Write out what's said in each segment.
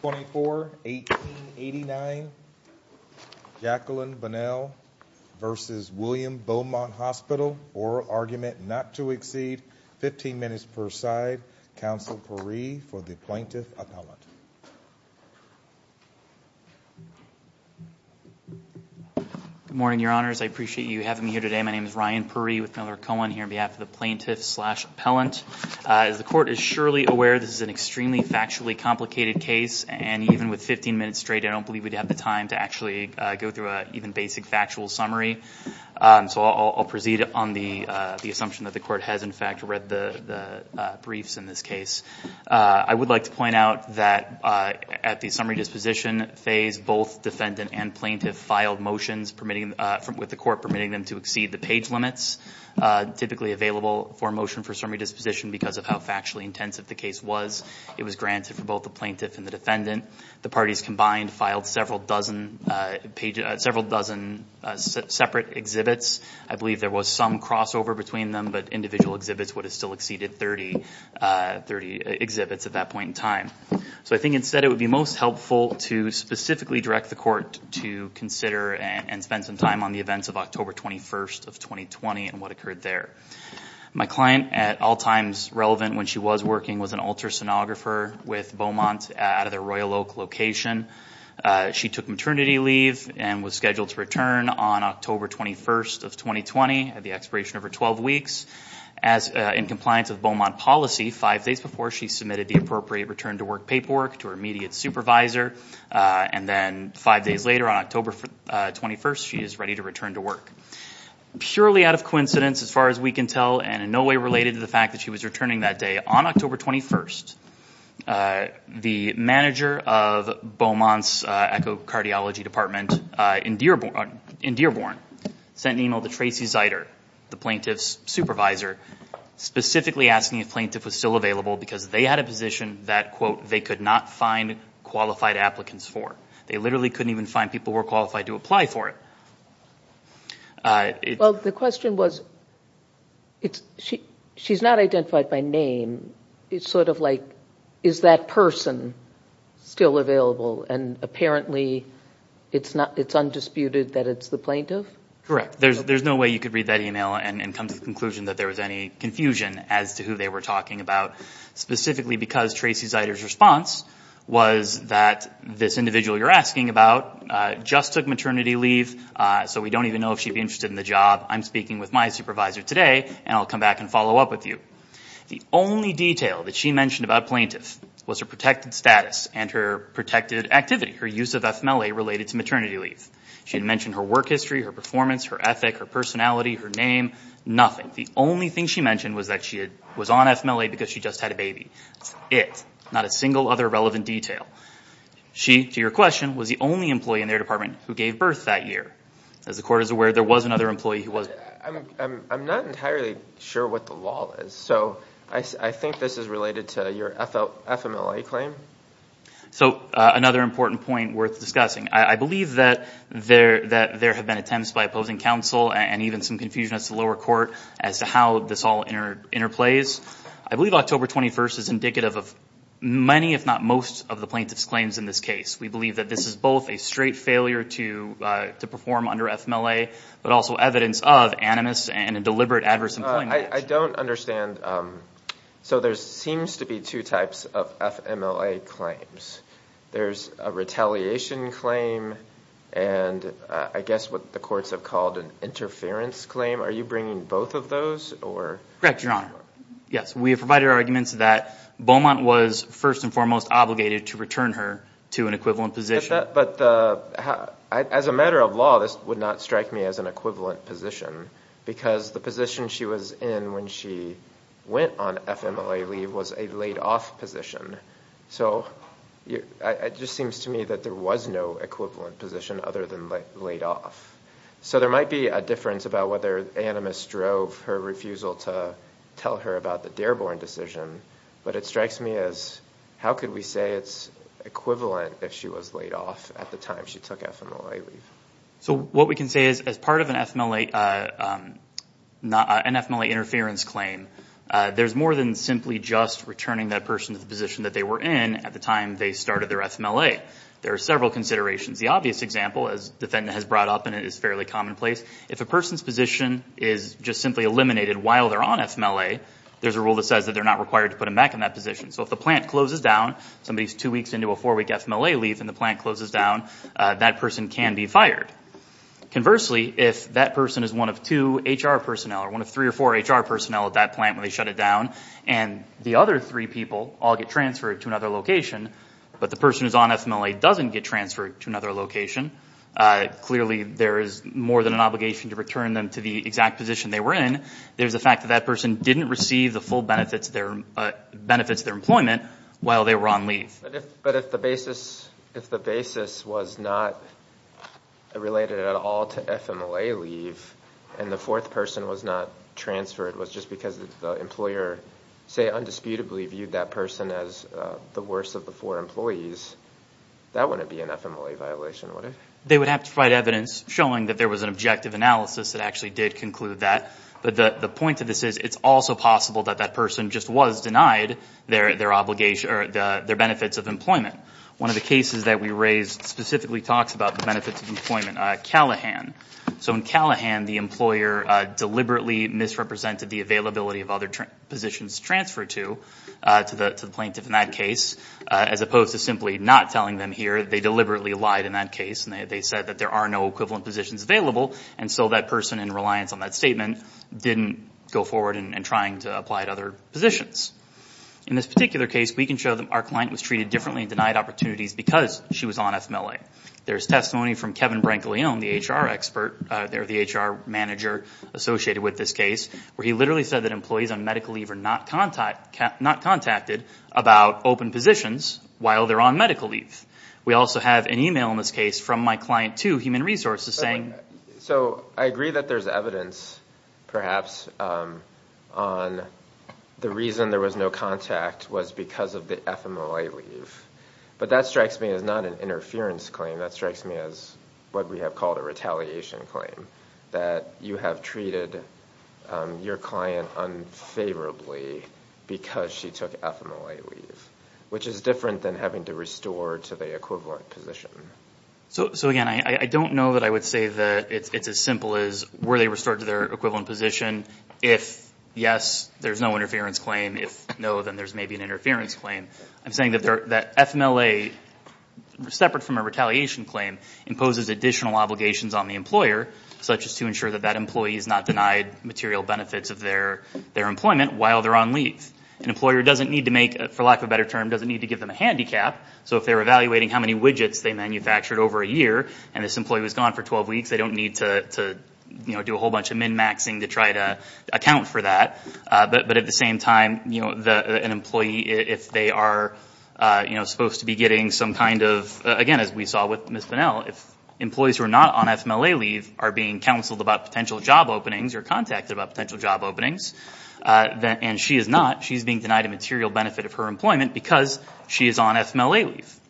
24 1889 Jacqueline Bunnell versus William Beaumont Hospital oral argument not to exceed 15 minutes per side counsel perry for the plaintiff appellant good morning your honors i appreciate you having me here today my name is ryan perry with miller cohen here on behalf of the plaintiff slash appellant as the court is surely aware this is an extremely factually complicated case and even with 15 minutes straight i don't believe we'd have the time to actually go through a even basic factual summary so i'll proceed on the the assumption that the court has in fact read the the briefs in this case i would like to point out that at the summary disposition phase both defendant and plaintiff filed motions permitting from with the court permitting them to exceed the page limits typically available for motion for disposition because of how factually intensive the case was it was granted for both the plaintiff and the defendant the parties combined filed several dozen uh pages several dozen separate exhibits i believe there was some crossover between them but individual exhibits would have still exceeded 30 uh 30 exhibits at that point in time so i think instead it would be most helpful to specifically direct the court to consider and spend some time on the events of october 21st of 2020 and what occurred there my client at all times relevant when she was working with an ultrasonographer with beaumont out of their royal oak location she took maternity leave and was scheduled to return on october 21st of 2020 at the expiration of her 12 weeks as in compliance of beaumont policy five days before she submitted the appropriate return to work paperwork to her immediate supervisor and then five days later on october 21st she is ready to return to work purely out of coincidence as far as we can tell and in no way related to the fact that she was returning that day on october 21st uh the manager of beaumont's uh echocardiology department uh in dearborn in dearborn sent an email to tracy zyder the plaintiff's supervisor specifically asking if plaintiff was still available because they had a position that quote they could not find qualified applicants for they literally couldn't even find people were qualified to apply for it well the question was it's she she's not identified by name it's sort of like is that person still available and apparently it's not it's undisputed that it's the plaintiff correct there's there's no way you could read that email and come to the conclusion that there was any confusion as to who they were talking about specifically because tracy zyder's response was that this individual you're asking about uh just took maternity leave uh so we don't even know if she'd be interested in the job i'm speaking with my supervisor today and i'll come back and follow up with you the only detail that she mentioned about plaintiff was her protected status and her protected activity her use of fmla related to maternity leave she had mentioned her work history her performance her ethic her personality her name nothing the only thing she mentioned was that she had was on fmla because she just had a baby it's not a single other relevant detail she to your question was the only employee in their department who gave birth that year as the court is aware there was another employee who was i'm i'm not entirely sure what the law is so i i think this is related to your fmla claim so another important point worth discussing i believe that there that there have been attempts by opposing counsel and even some confusion as to lower court as to how this all inter interplays i believe october 21st is indicative of many if not most of the plaintiff's claims in this case we believe that this is both a straight failure to uh to perform under fmla but also evidence of animus and a deliberate adverse employment i don't understand um so there seems to be two types of fmla claims there's a retaliation claim and i guess what the courts have called an interference claim are you bringing both of those or correct your honor yes we have provided arguments that beaumont was first and foremost obligated to return her to an equivalent position but the as a matter of law this would not strike me as an equivalent position because the position she was in when she went on fmla leave was a laid off position so it just seems to me that there was no equivalent position other than laid off so there might be a difference about whether animus drove her refusal to tell her about the decision but it strikes me as how could we say it's equivalent if she was laid off at the time she took fmla leave so what we can say is as part of an fmla uh um not an fmla interference claim uh there's more than simply just returning that person to the position that they were in at the time they started their fmla there are several considerations the obvious example as defendant has brought up and it is fairly commonplace if a person's position is just simply eliminated while they're on fmla there's a rule that says that they're not required to put him back in that position so if the plant closes down somebody's two weeks into a four-week fmla leave and the plant closes down that person can be fired conversely if that person is one of two hr personnel or one of three or four hr personnel at that plant when they shut it down and the other three people all get transferred to another location but the person who's on fmla doesn't get transferred to another location uh clearly there is more than an obligation to return them to the exact position they were in there's the fact that that person didn't receive the full benefits their benefits their employment while they were on leave but if but if the basis if the basis was not related at all to fmla leave and the fourth person was not transferred was just because the employer say undisputably viewed that person as uh the worst of the four employees that wouldn't be an fmla violation what if they would have to provide evidence showing that there was an objective analysis that actually did conclude that but the the point of this is it's also possible that that person just was denied their their obligation or their benefits of employment one of the cases that we raised specifically talks about the benefits of employment uh callahan so in callahan the employer uh deliberately misrepresented the availability of other positions transferred to uh to the to the plaintiff in that case as opposed to simply not telling them here they deliberately lied in that case and they said that there are no equivalent positions available and so that person in reliance on that statement didn't go forward and trying to apply to other positions in this particular case we can show them our client was treated differently and denied opportunities because she was on fmla there's testimony from kevin brankley on the hr expert uh they're the hr manager associated with this case where he literally said that employees on medical leave are not contact not contacted about open positions while they're on medical leave we also have an email in this case from my client to human resources saying so i agree that there's evidence perhaps um on the reason there was no contact was because of the fmla leave but that strikes me as not an interference claim that strikes me as what we have called a retaliation claim that you have treated um your client unfavorably because she took fmla leave which is different than having to restore to the position so so again i i don't know that i would say that it's as simple as were they restored to their equivalent position if yes there's no interference claim if no then there's maybe an interference claim i'm saying that they're that fmla separate from a retaliation claim imposes additional obligations on the employer such as to ensure that that employee is not denied material benefits of their their employment while they're on leave an employer doesn't need to make for lack better term doesn't need to give them a handicap so if they're evaluating how many widgets they manufactured over a year and this employee was gone for 12 weeks they don't need to to you know do a whole bunch of min maxing to try to account for that uh but but at the same time you know the an employee if they are uh you know supposed to be getting some kind of again as we saw with miss finnell if employees who are not on fmla leave are being counseled about potential job openings or contacted about potential job openings uh that and she is not she's being denied a material benefit of her employment because she is on fmla leave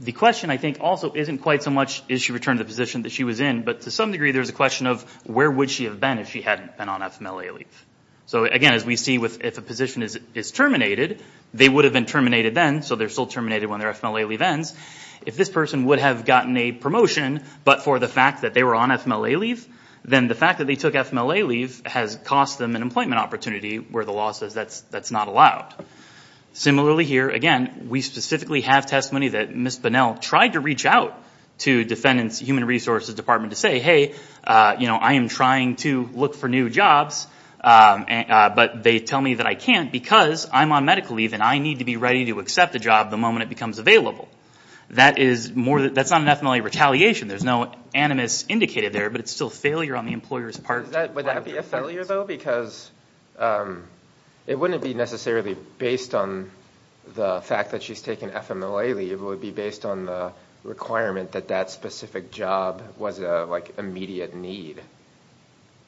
the question i think also isn't quite so much is she returned the position that she was in but to some degree there's a question of where would she have been if she hadn't been on fmla leave so again as we see with if a position is is terminated they would have been terminated then so they're still terminated when their fmla leave ends if this person would have gotten a promotion but for the fact that they were on fmla leave then the fact that they took fmla leave has cost them an employment opportunity where the law says that's not allowed similarly here again we specifically have testimony that miss finnell tried to reach out to defendants human resources department to say hey uh you know i am trying to look for new jobs um but they tell me that i can't because i'm on medical leave and i need to be ready to accept a job the moment it becomes available that is more that's not an fmla retaliation there's no animus indicated there but it's still failure on the employer's would that be a failure though because um it wouldn't be necessarily based on the fact that she's taken fmla leave would be based on the requirement that that specific job was a like immediate need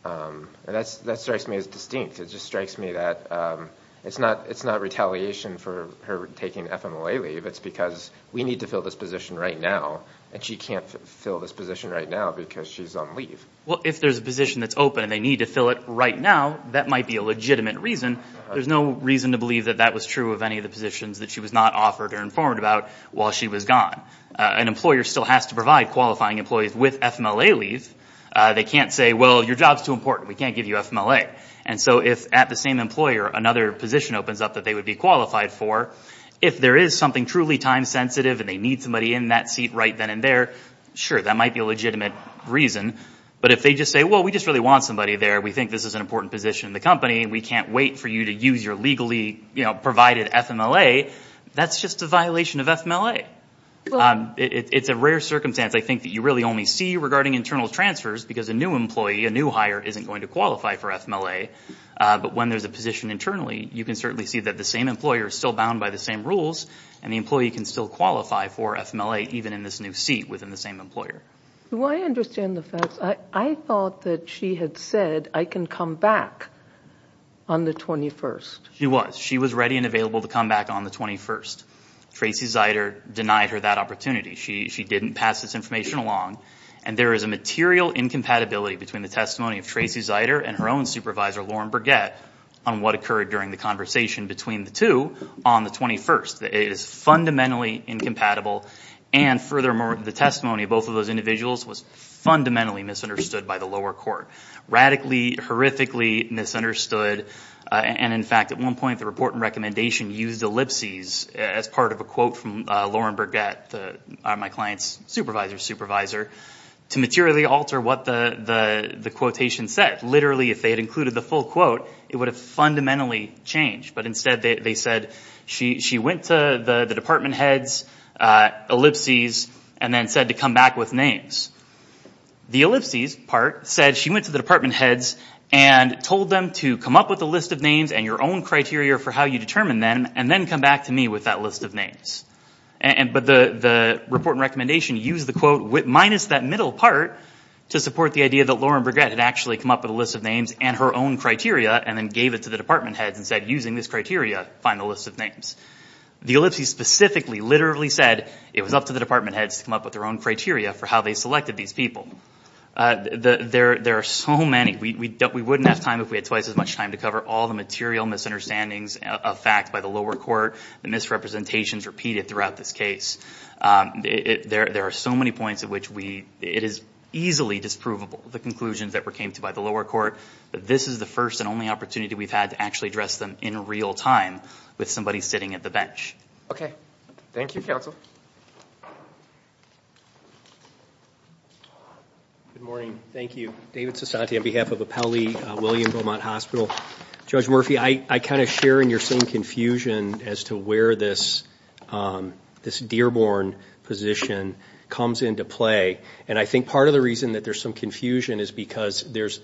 um and that's that strikes me as distinct it just strikes me that um it's not it's not retaliation for her taking fmla leave it's because we need to fill this position right now and she can't fill this position right now because she's on leave well if there's a and they need to fill it right now that might be a legitimate reason there's no reason to believe that that was true of any of the positions that she was not offered or informed about while she was gone an employer still has to provide qualifying employees with fmla leave they can't say well your job's too important we can't give you fmla and so if at the same employer another position opens up that they would be qualified for if there is something truly time sensitive and they need somebody in that seat right then and there sure that might be a legitimate reason but if they just say well we just really want somebody there we think this is an important position in the company we can't wait for you to use your legally you know provided fmla that's just a violation of fmla it's a rare circumstance i think that you really only see regarding internal transfers because a new employee a new hire isn't going to qualify for fmla but when there's a position internally you can certainly see that the same employer is still bound by the same rules and the employee can still qualify for fmla even in this new seat the same employer do i understand the facts i i thought that she had said i can come back on the 21st she was she was ready and available to come back on the 21st tracy zyder denied her that opportunity she she didn't pass this information along and there is a material incompatibility between the testimony of tracy zyder and her own supervisor lauren burgett on what occurred during the conversation between the two on the 21st it is fundamentally incompatible and furthermore the testimony of both of those individuals was fundamentally misunderstood by the lower court radically horrifically misunderstood and in fact at one point the report and recommendation used ellipses as part of a quote from lauren burgett the my client's supervisor's supervisor to materially alter what the the the quotation said literally if they had included the full quote it would have fundamentally changed but instead they said she she went to the the department heads ellipses and then said to come back with names the ellipses part said she went to the department heads and told them to come up with a list of names and your own criteria for how you determine them and then come back to me with that list of names and but the the report and recommendation used the quote with minus that middle part to support the idea that lauren burgett had actually come up with a list of names and her own criteria and then gave it to the department heads and said using this criteria find the list of names the ellipses specifically literally said it was up to the department heads to come up with their own criteria for how they selected these people uh the there there are so many we don't we wouldn't have time if we had twice as much time to cover all the material misunderstandings of fact by the lower court the misrepresentations repeated throughout this case there there are so many points at which we it is easily disprovable the conclusions that were came to by the lower court this is the first and only opportunity we've had to actually address in real time with somebody sitting at the bench okay thank you counsel good morning thank you david sasanti on behalf of appellee william beaumont hospital judge murphy i i kind of share in your same confusion as to where this um this dearborn position comes into play and i think part of the reason that there's some confusion is because there's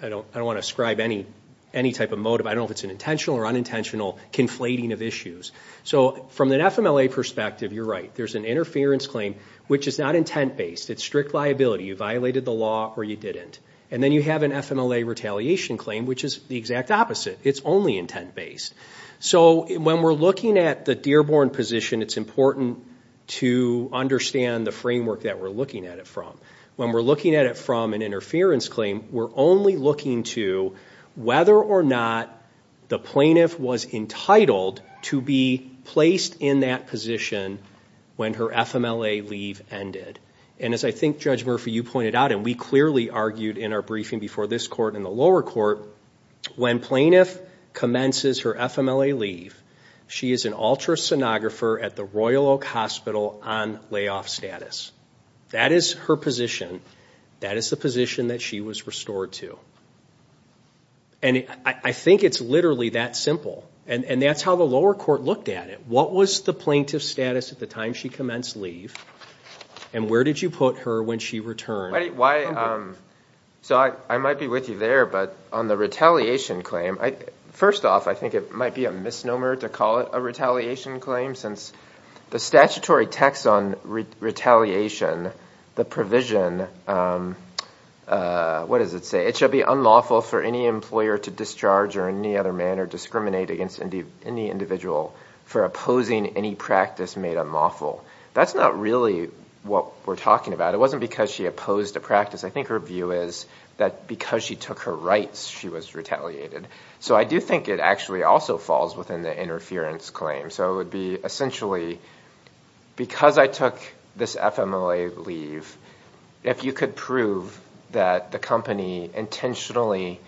i don't i don't ascribe any any type of motive i don't know if it's an intentional or unintentional conflating of issues so from an fmla perspective you're right there's an interference claim which is not intent-based it's strict liability you violated the law or you didn't and then you have an fmla retaliation claim which is the exact opposite it's only intent-based so when we're looking at the dearborn position it's important to understand the framework that we're looking at it when we're looking at it from an interference claim we're only looking to whether or not the plaintiff was entitled to be placed in that position when her fmla leave ended and as i think judge murphy you pointed out and we clearly argued in our briefing before this court in the lower court when plaintiff commences her fmla leave she is an ultrasonographer at the royal hospital on layoff status that is her position that is the position that she was restored to and i think it's literally that simple and and that's how the lower court looked at it what was the plaintiff status at the time she commenced leave and where did you put her when she returned why um so i i might be with you there but on the retaliation claim i first off i think it be a misnomer to call it a retaliation claim since the statutory text on retaliation the provision what does it say it shall be unlawful for any employer to discharge or any other manner discriminate against any individual for opposing any practice made unlawful that's not really what we're talking about it wasn't because she opposed a practice i think her view is that because she her rights she was retaliated so i do think it actually also falls within the interference claim so it would be essentially because i took this fmla leave if you could prove that the company intentionally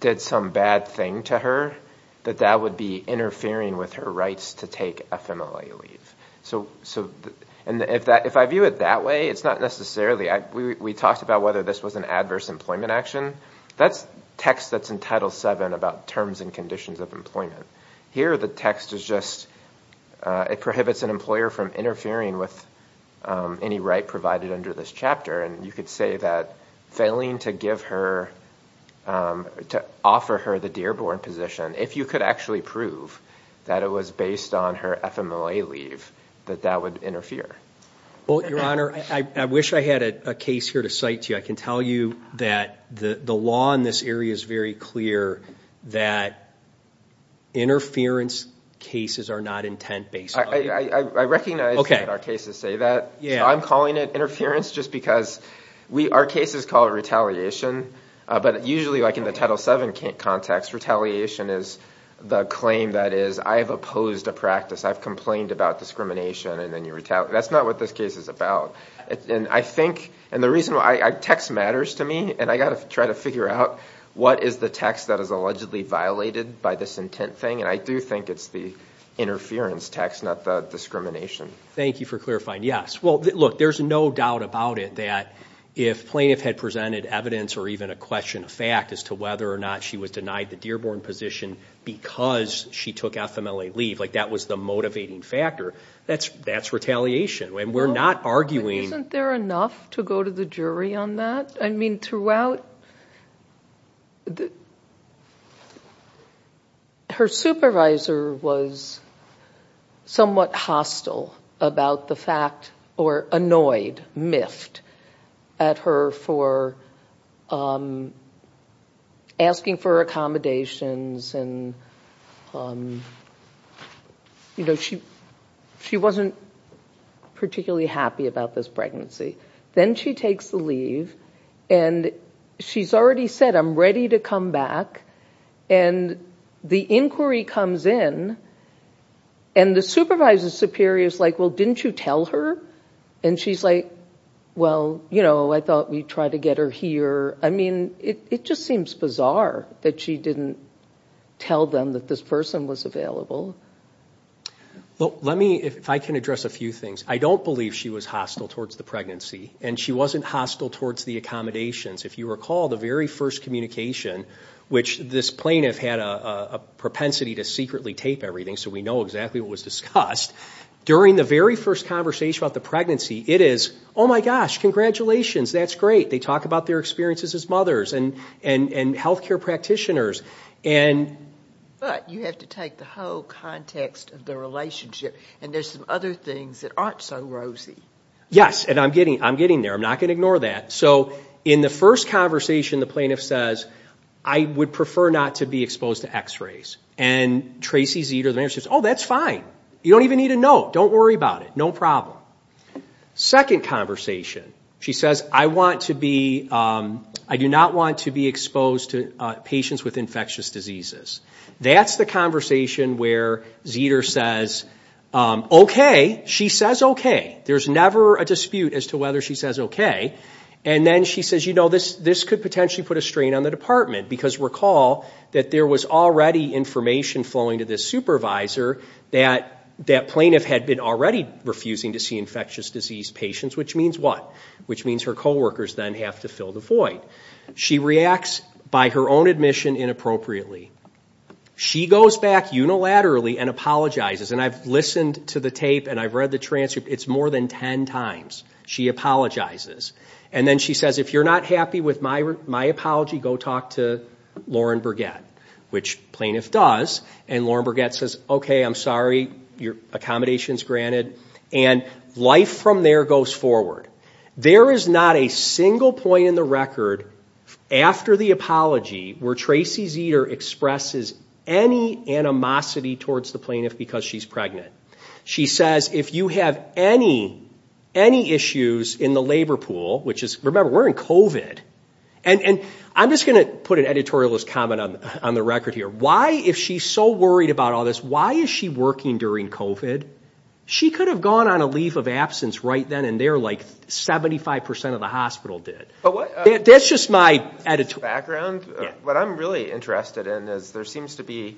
did some bad thing to her that that would be interfering with her rights to take fmla leave so so and if that if i view it that way it's not necessarily i we talked about whether this was an adverse employment action that's text that's in title 7 about terms and conditions of employment here the text is just uh it prohibits an employer from interfering with any right provided under this chapter and you could say that failing to give her to offer her the dearborn position if you could actually prove that it was based on her fmla leave that that would interfere well your honor i wish i had a case here to cite to you i can tell you that the the law in this area is very clear that interference cases are not intent based i i i recognize that our cases say that yeah i'm calling it interference just because we our cases call it retaliation but usually like in the title 7 context retaliation is the claim that is i have opposed a practice i've complained about discrimination and then you retaliate that's not what this case is about and i think and the reason why i text matters to me and i got to try to figure out what is the text that is allegedly violated by this intent thing and i do think it's the interference text not the discrimination thank you for clarifying yes well look there's no doubt about it that if plaintiff had presented evidence or even a question of fact as to whether or not she was denied the dearborn position because she took fmla leave like that was the motivating factor that's that's retaliation and we're not arguing isn't there enough to go to the jury on that i mean throughout the her supervisor was somewhat hostile about the fact or annoyed miffed at her for um asking for accommodations and um you know she she wasn't particularly happy about this pregnancy then she takes the leave and she's already said i'm ready to come back and the inquiry comes in and the supervisor superior is like well didn't you tell her and she's like well you know i thought we'd try to get her here i mean it just seems bizarre that she didn't tell them that this person was available well let me if i can address a few things i don't believe she was hostile towards the pregnancy and she wasn't hostile towards the accommodations if you recall the very first communication which this plaintiff had a a propensity to secretly tape everything so we know exactly what was discussed during the very first conversation about the pregnancy it is oh my gosh congratulations that's great they talk about their experiences as mothers and and and health care practitioners and but you have to take the whole context of the relationship and there's some other things that aren't so rosy yes and i'm getting i'm getting there i'm not going to ignore that so in the first conversation the plaintiff says i would prefer not to be exposed to x-rays and tracy's eater the managers oh that's fine you don't even need to know don't worry about it no problem second conversation she says i want to be um i do not want to be exposed to uh patients with infectious diseases that's the conversation where zeter says um okay she says okay there's never a dispute as to whether she says okay and then she says you know this this could potentially put a strain on the department because recall that there was already information flowing to this supervisor that that plaintiff had been already refusing to see infectious disease patients which means what which means her co-workers then have to fill the void she reacts by her own admission inappropriately she goes back unilaterally and apologizes and i've listened to the tape and i've read the transcript it's more than 10 times she apologizes and then she says if you're not happy with my my apology go talk to lauren burgett which plaintiff does and lauren burgett says okay i'm sorry your accommodations granted and life from there goes forward there is not a single point in the record after the apology where tracy's eater expresses any animosity towards the plaintiff because she's pregnant she says if you have any any issues in the labor pool which is remember we're in covid and and i'm just going to put an editorialist comment on on the record here why if she's so worried about all this why is she working during covid she could have gone on a leave of absence right then and there like 75 of the hospital did but that's just my editor background what i'm really interested in is there seems to be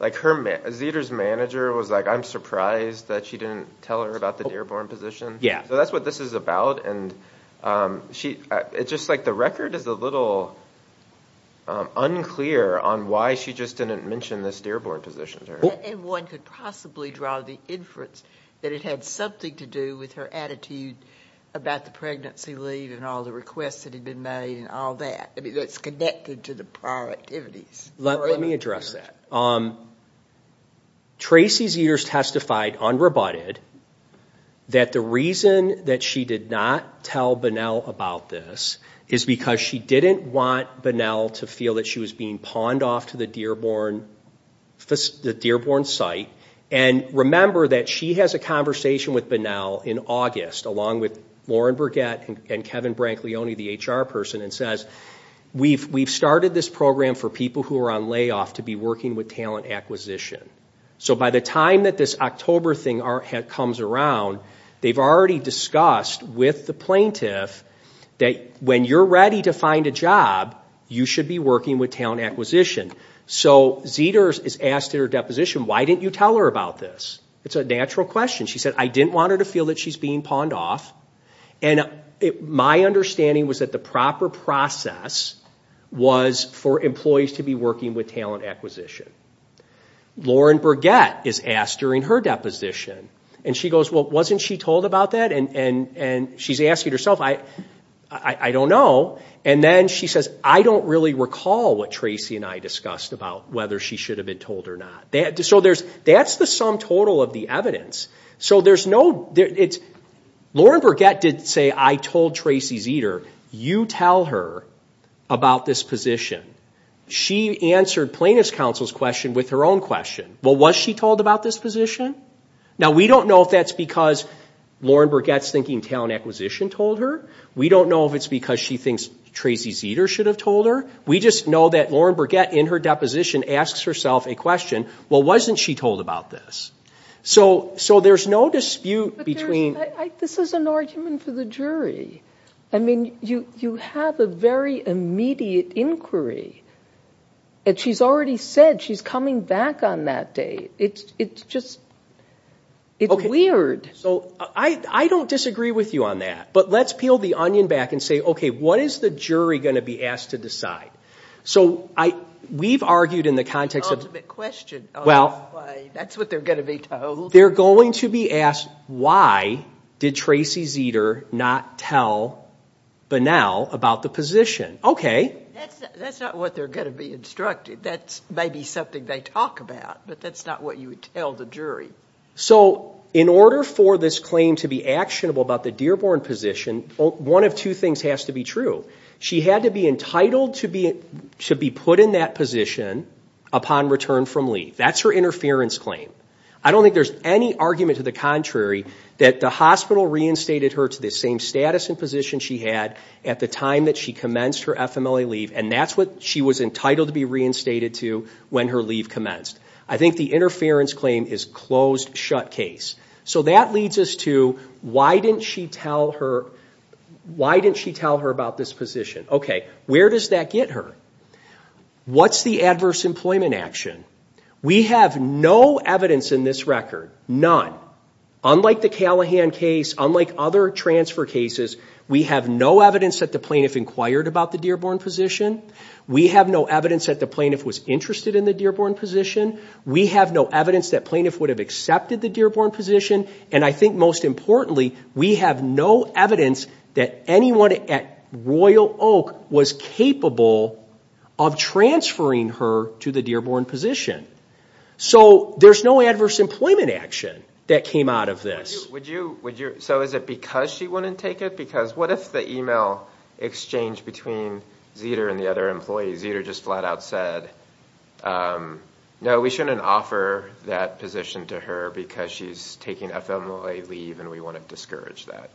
like her zeter's manager was like i'm surprised that she didn't tell her about the dearborn position yeah so that's what this is about and um she it's just like the record is a little unclear on why she just didn't mention this dearborn position to her and one could possibly draw the inference that it had something to do with her attitude about the pregnancy leave and all the requests that had been made and all that i mean that's connected to the prior activities let me address that um tracy's years testified unrebutted that the reason that she did not tell banal about this is because she didn't want banal to feel that she was being pawned off to the dearborn the dearborn site and remember that she has a conversation with banal in august along with lauren bruguette and kevin brank leone the hr person and says we've we've started this program for people who are on layoff to be working with acquisition so by the time that this october thing comes around they've already discussed with the plaintiff that when you're ready to find a job you should be working with talent acquisition so zeter's is asked her deposition why didn't you tell her about this it's a natural question she said i didn't want her to feel that she's being pawned off and my understanding was that the process was for employees to be working with talent acquisition lauren bruguette is asked during her deposition and she goes well wasn't she told about that and and and she's asking herself i i don't know and then she says i don't really recall what tracy and i discussed about whether she should have been told or not that so there's that's the sum total of the evidence so there's no it's lauren bruguette didn't say i told tracy zeter you tell her about this position she answered plaintiff's counsel's question with her own question well was she told about this position now we don't know if that's because lauren bruguette's thinking talent acquisition told her we don't know if it's because she thinks tracy zeter should have told her we just know that lauren bruguette in her deposition asks herself a question well wasn't she told about this so so there's no dispute between this is an argument for the jury i mean you you have a very immediate inquiry and she's already said she's coming back on that day it's it's just it's weird so i i don't disagree with you on that but let's peel the onion back and say okay what is the jury going to be asked to decide so i we've argued in the context of the ultimate question well that's what they're going to be told they're going to be asked why did tracy zeter not tell banal about the position okay that's that's not what they're going to be instructed that's maybe something they talk about but that's not what you would tell the jury so in order for this claim to be actionable about the dearborn position one of two things has to be true she had to be entitled to be to be put in that position upon return from leave that's her interference claim i don't think there's any argument to the contrary that the hospital reinstated her to the same status and position she had at the time that she commenced her fmla leave and that's what she was entitled to be reinstated to when her leave commenced i think the interference claim is closed shut case so that leads us to why didn't she tell her why didn't she tell her about this position okay where does that get her what's the adverse employment action we have no evidence in this record none unlike the callahan case unlike other transfer cases we have no evidence that the plaintiff inquired about the dearborn position we have no evidence that the plaintiff was interested in the dearborn position we have no evidence that plaintiff would have accepted the dearborn position and i think most importantly we have no evidence that anyone at royal oak was capable of transferring her to the dearborn position so there's no adverse employment action that came out of this would you would you so is it because she wouldn't take it because what if the email exchange between zeter and the other employees either just flat out said um no we shouldn't offer that position to her because she's taking fmla leave and we want to discourage that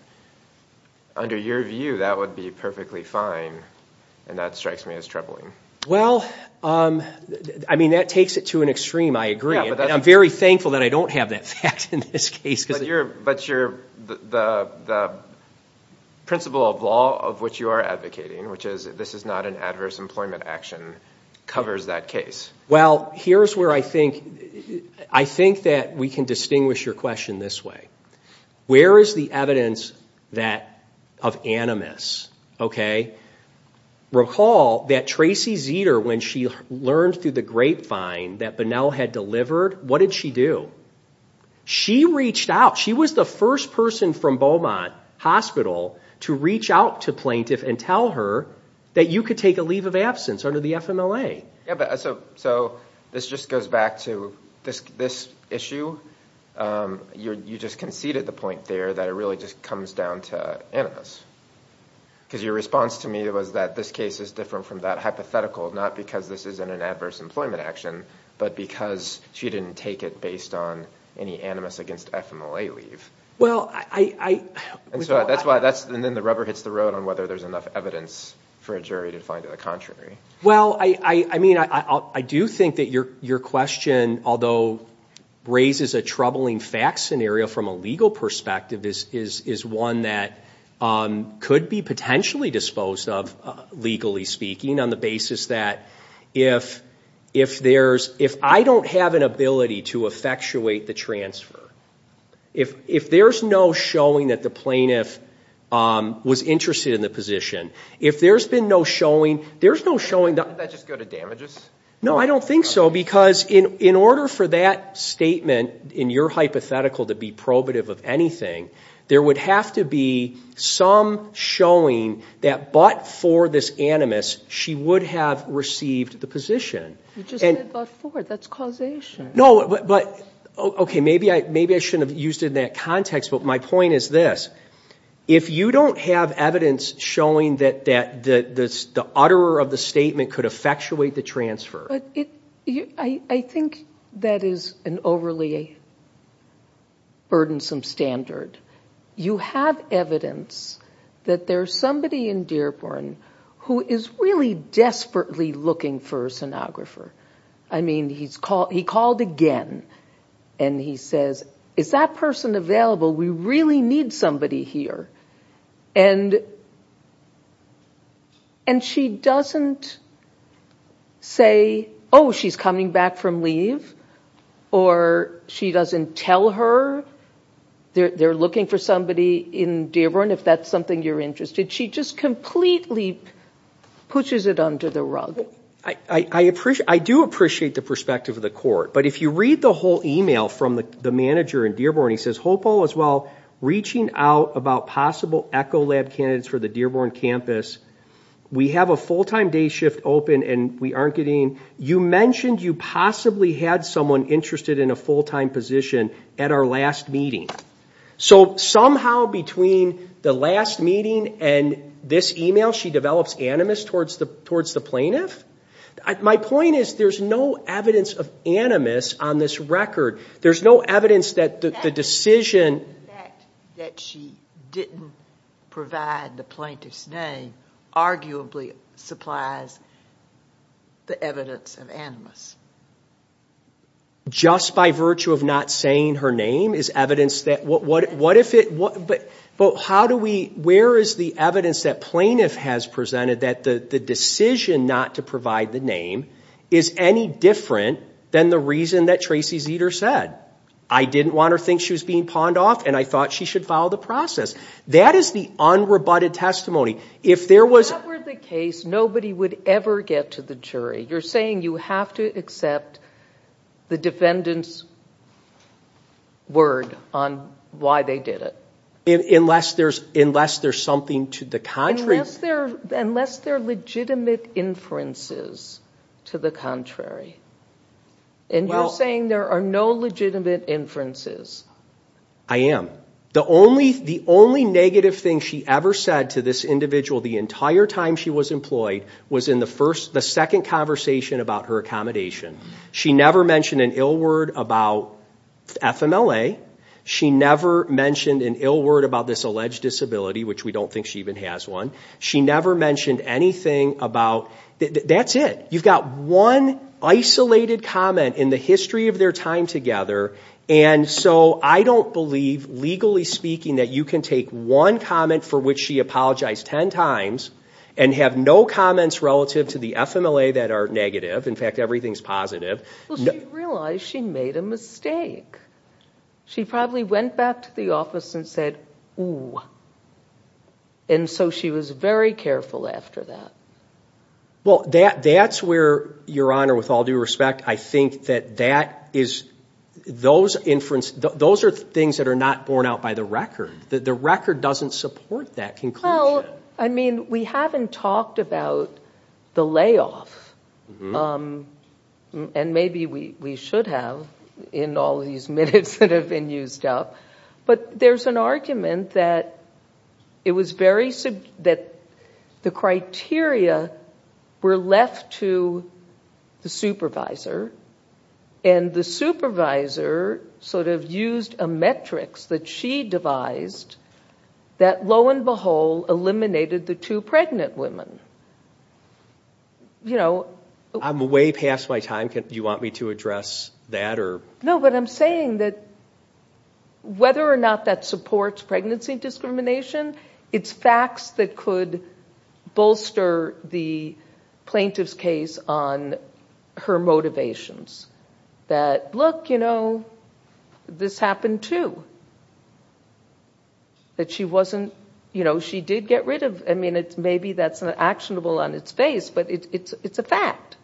under your view that would be perfectly fine and that strikes me as troubling well um i mean that takes it to an extreme i agree i'm very thankful that i don't have that fact in this case because you're but you're the the principle of law of which you are advocating which is this is not an adverse employment action covers that case well here's where i think i think that we can distinguish your question this way where is the evidence that of animus okay recall that tracy zeter when she learned through the grapevine that bonnell had delivered what did she do she reached out she was the first person from beaumont hospital to reach out to plaintiff and tell her that you could take a leave of absence under the fmla yeah but so so this just goes back to this this issue um you're you just conceded the point there that it really just comes down to animus because your response to me was that this case is different from that hypothetical not because this isn't an adverse employment action but because she didn't take it based on any animus against fmla leave well i i and so that's why that's and then the rubber hits the road on whether there's enough evidence for a jury to find it the well i i i mean i i do think that your your question although raises a troubling fact scenario from a legal perspective is is is one that um could be potentially disposed of legally speaking on the basis that if if there's if i don't have an ability to effectuate the transfer if if there's no showing that the plaintiff um was interested in the position if there's been no showing there's no showing that just go to damages no i don't think so because in in order for that statement in your hypothetical to be probative of anything there would have to be some showing that but for this animus she would have received the position you just said but for that's causation no but okay maybe i maybe i shouldn't have used that context but my point is this if you don't have evidence showing that that that this the utterer of the statement could effectuate the transfer but it i i think that is an overly burdensome standard you have evidence that there's somebody in dearborn who is really desperately looking for a sonographer i mean he's called he called again and he says is that person available we really need somebody here and and she doesn't say oh she's coming back from leave or she doesn't tell her they're looking for somebody in dearborn if that's something you're interested she just completely pushes it under the rug i i appreciate i do appreciate the perspective of the court but if you read the whole email from the manager in dearborn he says hope all is well reaching out about possible echo lab candidates for the dearborn campus we have a full-time day shift open and we aren't getting you mentioned you possibly had someone interested in a full-time position at our last meeting so somehow between the last meeting and this email she develops animus towards the towards the plaintiff my point is there's no evidence of animus on this record there's no evidence that the decision that she didn't provide the plaintiff's name arguably supplies the evidence of animus just by virtue of not saying her name is evidence that what what what if it what but but how do we where is the evidence that plaintiff has presented that the the decision not to provide the name is any different than the reason that tracy zeter said i didn't want her think she was being pawned off and i thought she should follow the process that is the unrebutted testimony if there was that were the case nobody would ever get to the jury you're saying you have to accept the defendant's word on why they did it unless there's unless there's something to the contrary unless they're legitimate inferences to the contrary and you're saying there are no legitimate inferences i am the only the only negative thing she ever said to this individual the entire time she was employed was in the first the second conversation about her accommodation she never mentioned an ill word about fmla she never mentioned an ill word about this alleged disability which we don't think she even has one she never mentioned anything about that's it you've got one isolated comment in the history of their time together and so i don't believe legally speaking that you can take one comment for which she apologized 10 times and have no comments relative to the fmla that are negative in fact everything's positive she realized she made a mistake she probably went back to the office and said oh and so she was very careful after that well that that's where your honor with all due respect i think that that is those inference those are things that are not borne out by the record that the record doesn't support that conclusion i mean we haven't talked about the layoff um and maybe we we should have in all these minutes that used up but there's an argument that it was very that the criteria were left to the supervisor and the supervisor sort of used a metrics that she devised that lo and behold eliminated the two pregnant women you know i'm way past my time can you want me to address that or no but i'm saying that whether or not that supports pregnancy discrimination it's facts that could bolster the plaintiff's case on her motivations that look you know this happened too that she wasn't you know she did get rid of i mean it's maybe that's not actionable on its face but it's it's a fact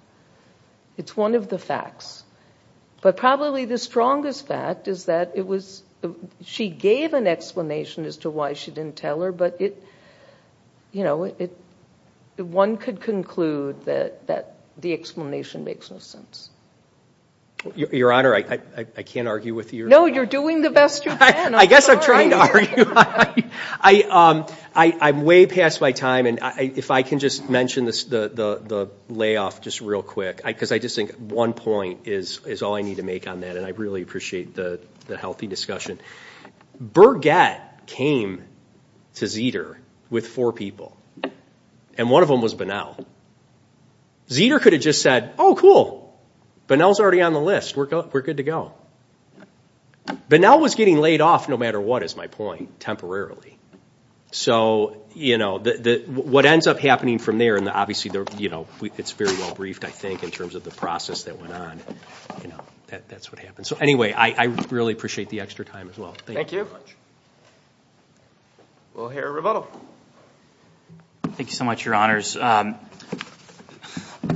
it's one of the facts but probably the strongest fact is that it was she gave an explanation as to why she didn't tell her but it you know it one could conclude that that the explanation makes no sense your honor i i can't argue with you no you're doing the best you can i guess i'm trying to argue i um i i'm way past my time and i if i can just mention this the the layoff just real quick because i just think one point is is all i need to make on that and i really appreciate the the healthy discussion burgette came to zeter with four people and one of them was banal zeter could have just said oh cool banal's already on the list we're good we're good to go banal was getting laid off no matter what is my point temporarily so you know the the what ends up happening from there and obviously they're you know it's very well briefed i think in terms of the process that went on you know that that's what happened so anyway i i really appreciate the extra time as well thank you very much well here rebuttal thank you so much your honors um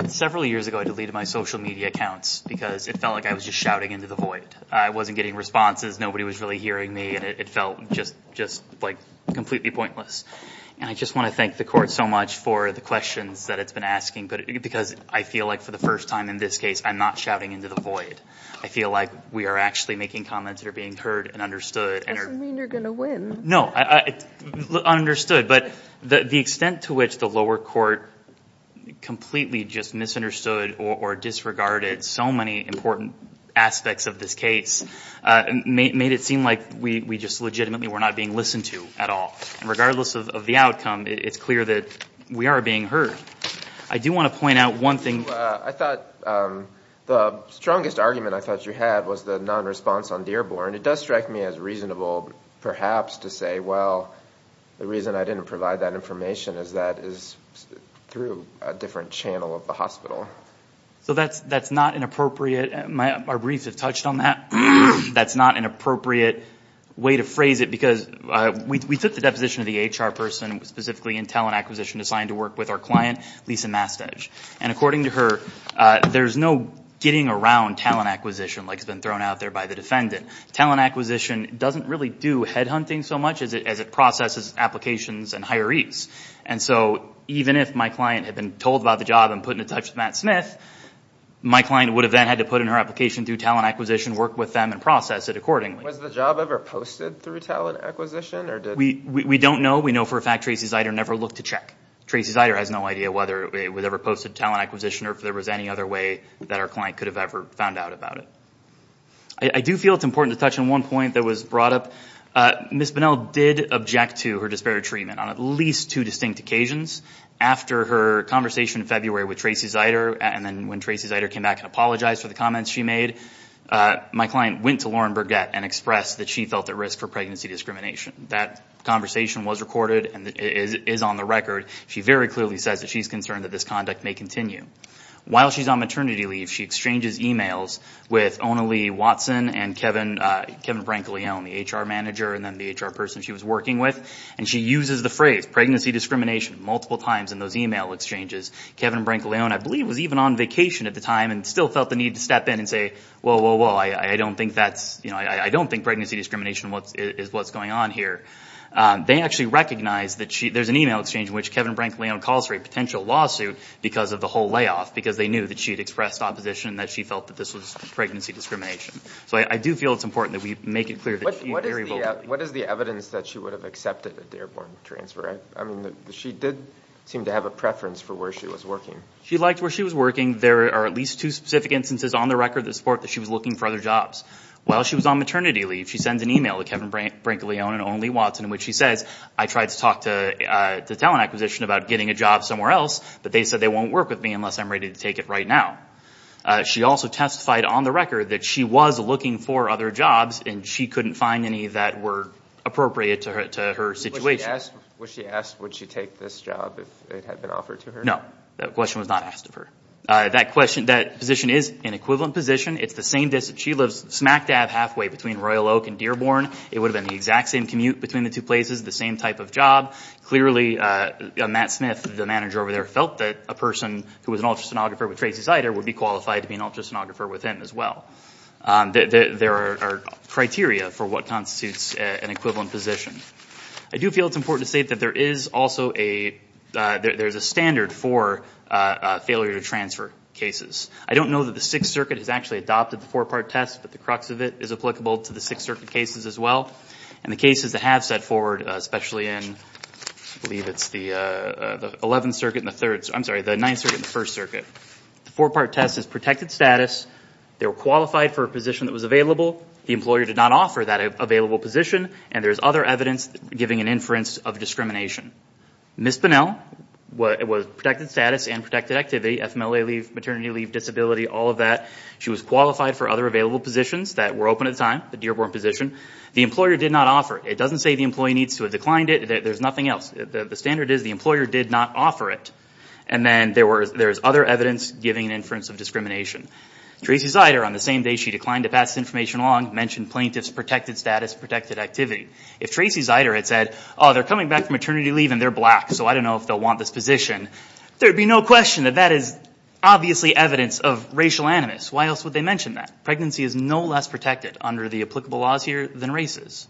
several years ago i deleted my social media accounts because it felt like i was just into the void i wasn't getting responses nobody was really hearing me and it felt just just like completely pointless and i just want to thank the court so much for the questions that it's been asking but because i feel like for the first time in this case i'm not shouting into the void i feel like we are actually making comments that are being heard and understood and it doesn't mean you're gonna win no i understood but the the extent to which the lower court completely just misunderstood or disregarded so many important aspects of this case made it seem like we we just legitimately were not being listened to at all regardless of the outcome it's clear that we are being heard i do want to point out one thing i thought um the strongest argument i thought you had was the non-response on dearborn it does strike me as reasonable perhaps to say well the reason i didn't provide that information is that is through a different channel of the hospital so that's that's not an appropriate my briefs have touched on that that's not an appropriate way to phrase it because uh we took the deposition of the hr person specifically in talent acquisition assigned to work with our client lisa mastedge and according to her uh there's no getting around talent acquisition like it's been thrown out there by the defendant talent acquisition doesn't really do head hunting so much as it processes applications and hirees and so even if my client had been told about the job and put in touch with matt smith my client would have then had to put in her application through talent acquisition work with them and process it accordingly was the job ever posted through talent acquisition or did we we don't know we know for a fact tracy's eider never looked to check tracy's eider has no idea whether it was ever posted talent acquisition or if there was any other way that our client could have ever found out about it i do feel it's important to touch on one point that was brought up uh miss bonnell did object to her disparate treatment on at least two distinct occasions after her conversation in february with tracy's eider and then when tracy's eider came back and apologized for the comments she made uh my client went to lauren burgett and expressed that she felt at risk for pregnancy discrimination that conversation was recorded and is on the record she very clearly says that she's concerned that this conduct may continue while she's on maternity leave she exchanges emails with ona lee watson and kevin uh kevin brankley on the hr manager and then the hr person she was working with and she uses the phrase pregnancy discrimination multiple times in those email exchanges kevin brankley own i believe was even on vacation at the time and still felt the need to step in and say whoa whoa whoa i i don't think that's you know i i don't think pregnancy discrimination what is what's going on here um they actually recognize that she there's an email exchange in which kevin brankley on calls for a potential lawsuit because of the whole layoff because they knew that she had expressed opposition that she felt that this was pregnancy discrimination so i do feel it's important that we make it clear what is what is the evidence that she would have accepted at the airport transfer i mean she did seem to have a preference for where she was working she liked where she was working there are at least two specific instances on the record that support that she was looking for other jobs while she was on maternity leave she sends an email to kevin brinkley own and only watson in which she says i tried to talk to uh to talent acquisition about getting a job somewhere else but they said they won't work with me unless i'm ready to take it right now she also testified on the record that she was looking for other jobs and she couldn't find any that were appropriate to her to her situation yes when she asked would she take this job if it had been offered to her no that question was not asked of her uh that question that position is an equivalent position it's the same distance she lives smack dab halfway between royal oak and dearborn it would have been the exact same commute between the two places the same type of job clearly uh matt smith the manager over there felt that a person who was an ultrasonographer with tracy cider would be qualified to be an ultrasonographer with him as well um there are criteria for what constitutes an equivalent position i do feel it's important to state that there is also a uh there's a standard for uh failure to transfer cases i don't know that the sixth circuit has actually adopted the four-part test but the crux of it is applicable to the sixth circuit cases as well and the cases that have set forward especially in i believe it's the uh the 11th circuit and the third i'm sorry the ninth circuit the first circuit the four-part test is protected status they were qualified for a position that was available the employer did not offer that available position and there's other evidence giving an inference of discrimination miss bonnell what it was protected status and protected activity fmla leave maternity leave all of that she was qualified for other available positions that were open at the time the dearborn position the employer did not offer it doesn't say the employee needs to have declined it there's nothing else the standard is the employer did not offer it and then there was there's other evidence giving an inference of discrimination tracy cider on the same day she declined to pass information along mentioned plaintiffs protected status protected activity if tracy zyder had said oh they're coming back from maternity leave and they're black so i don't if they'll want this position there'd be no question that that is obviously evidence of racial animus why else would they mention that pregnancy is no less protected under the applicable laws here than races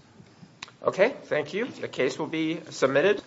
okay thank you the case will be submitted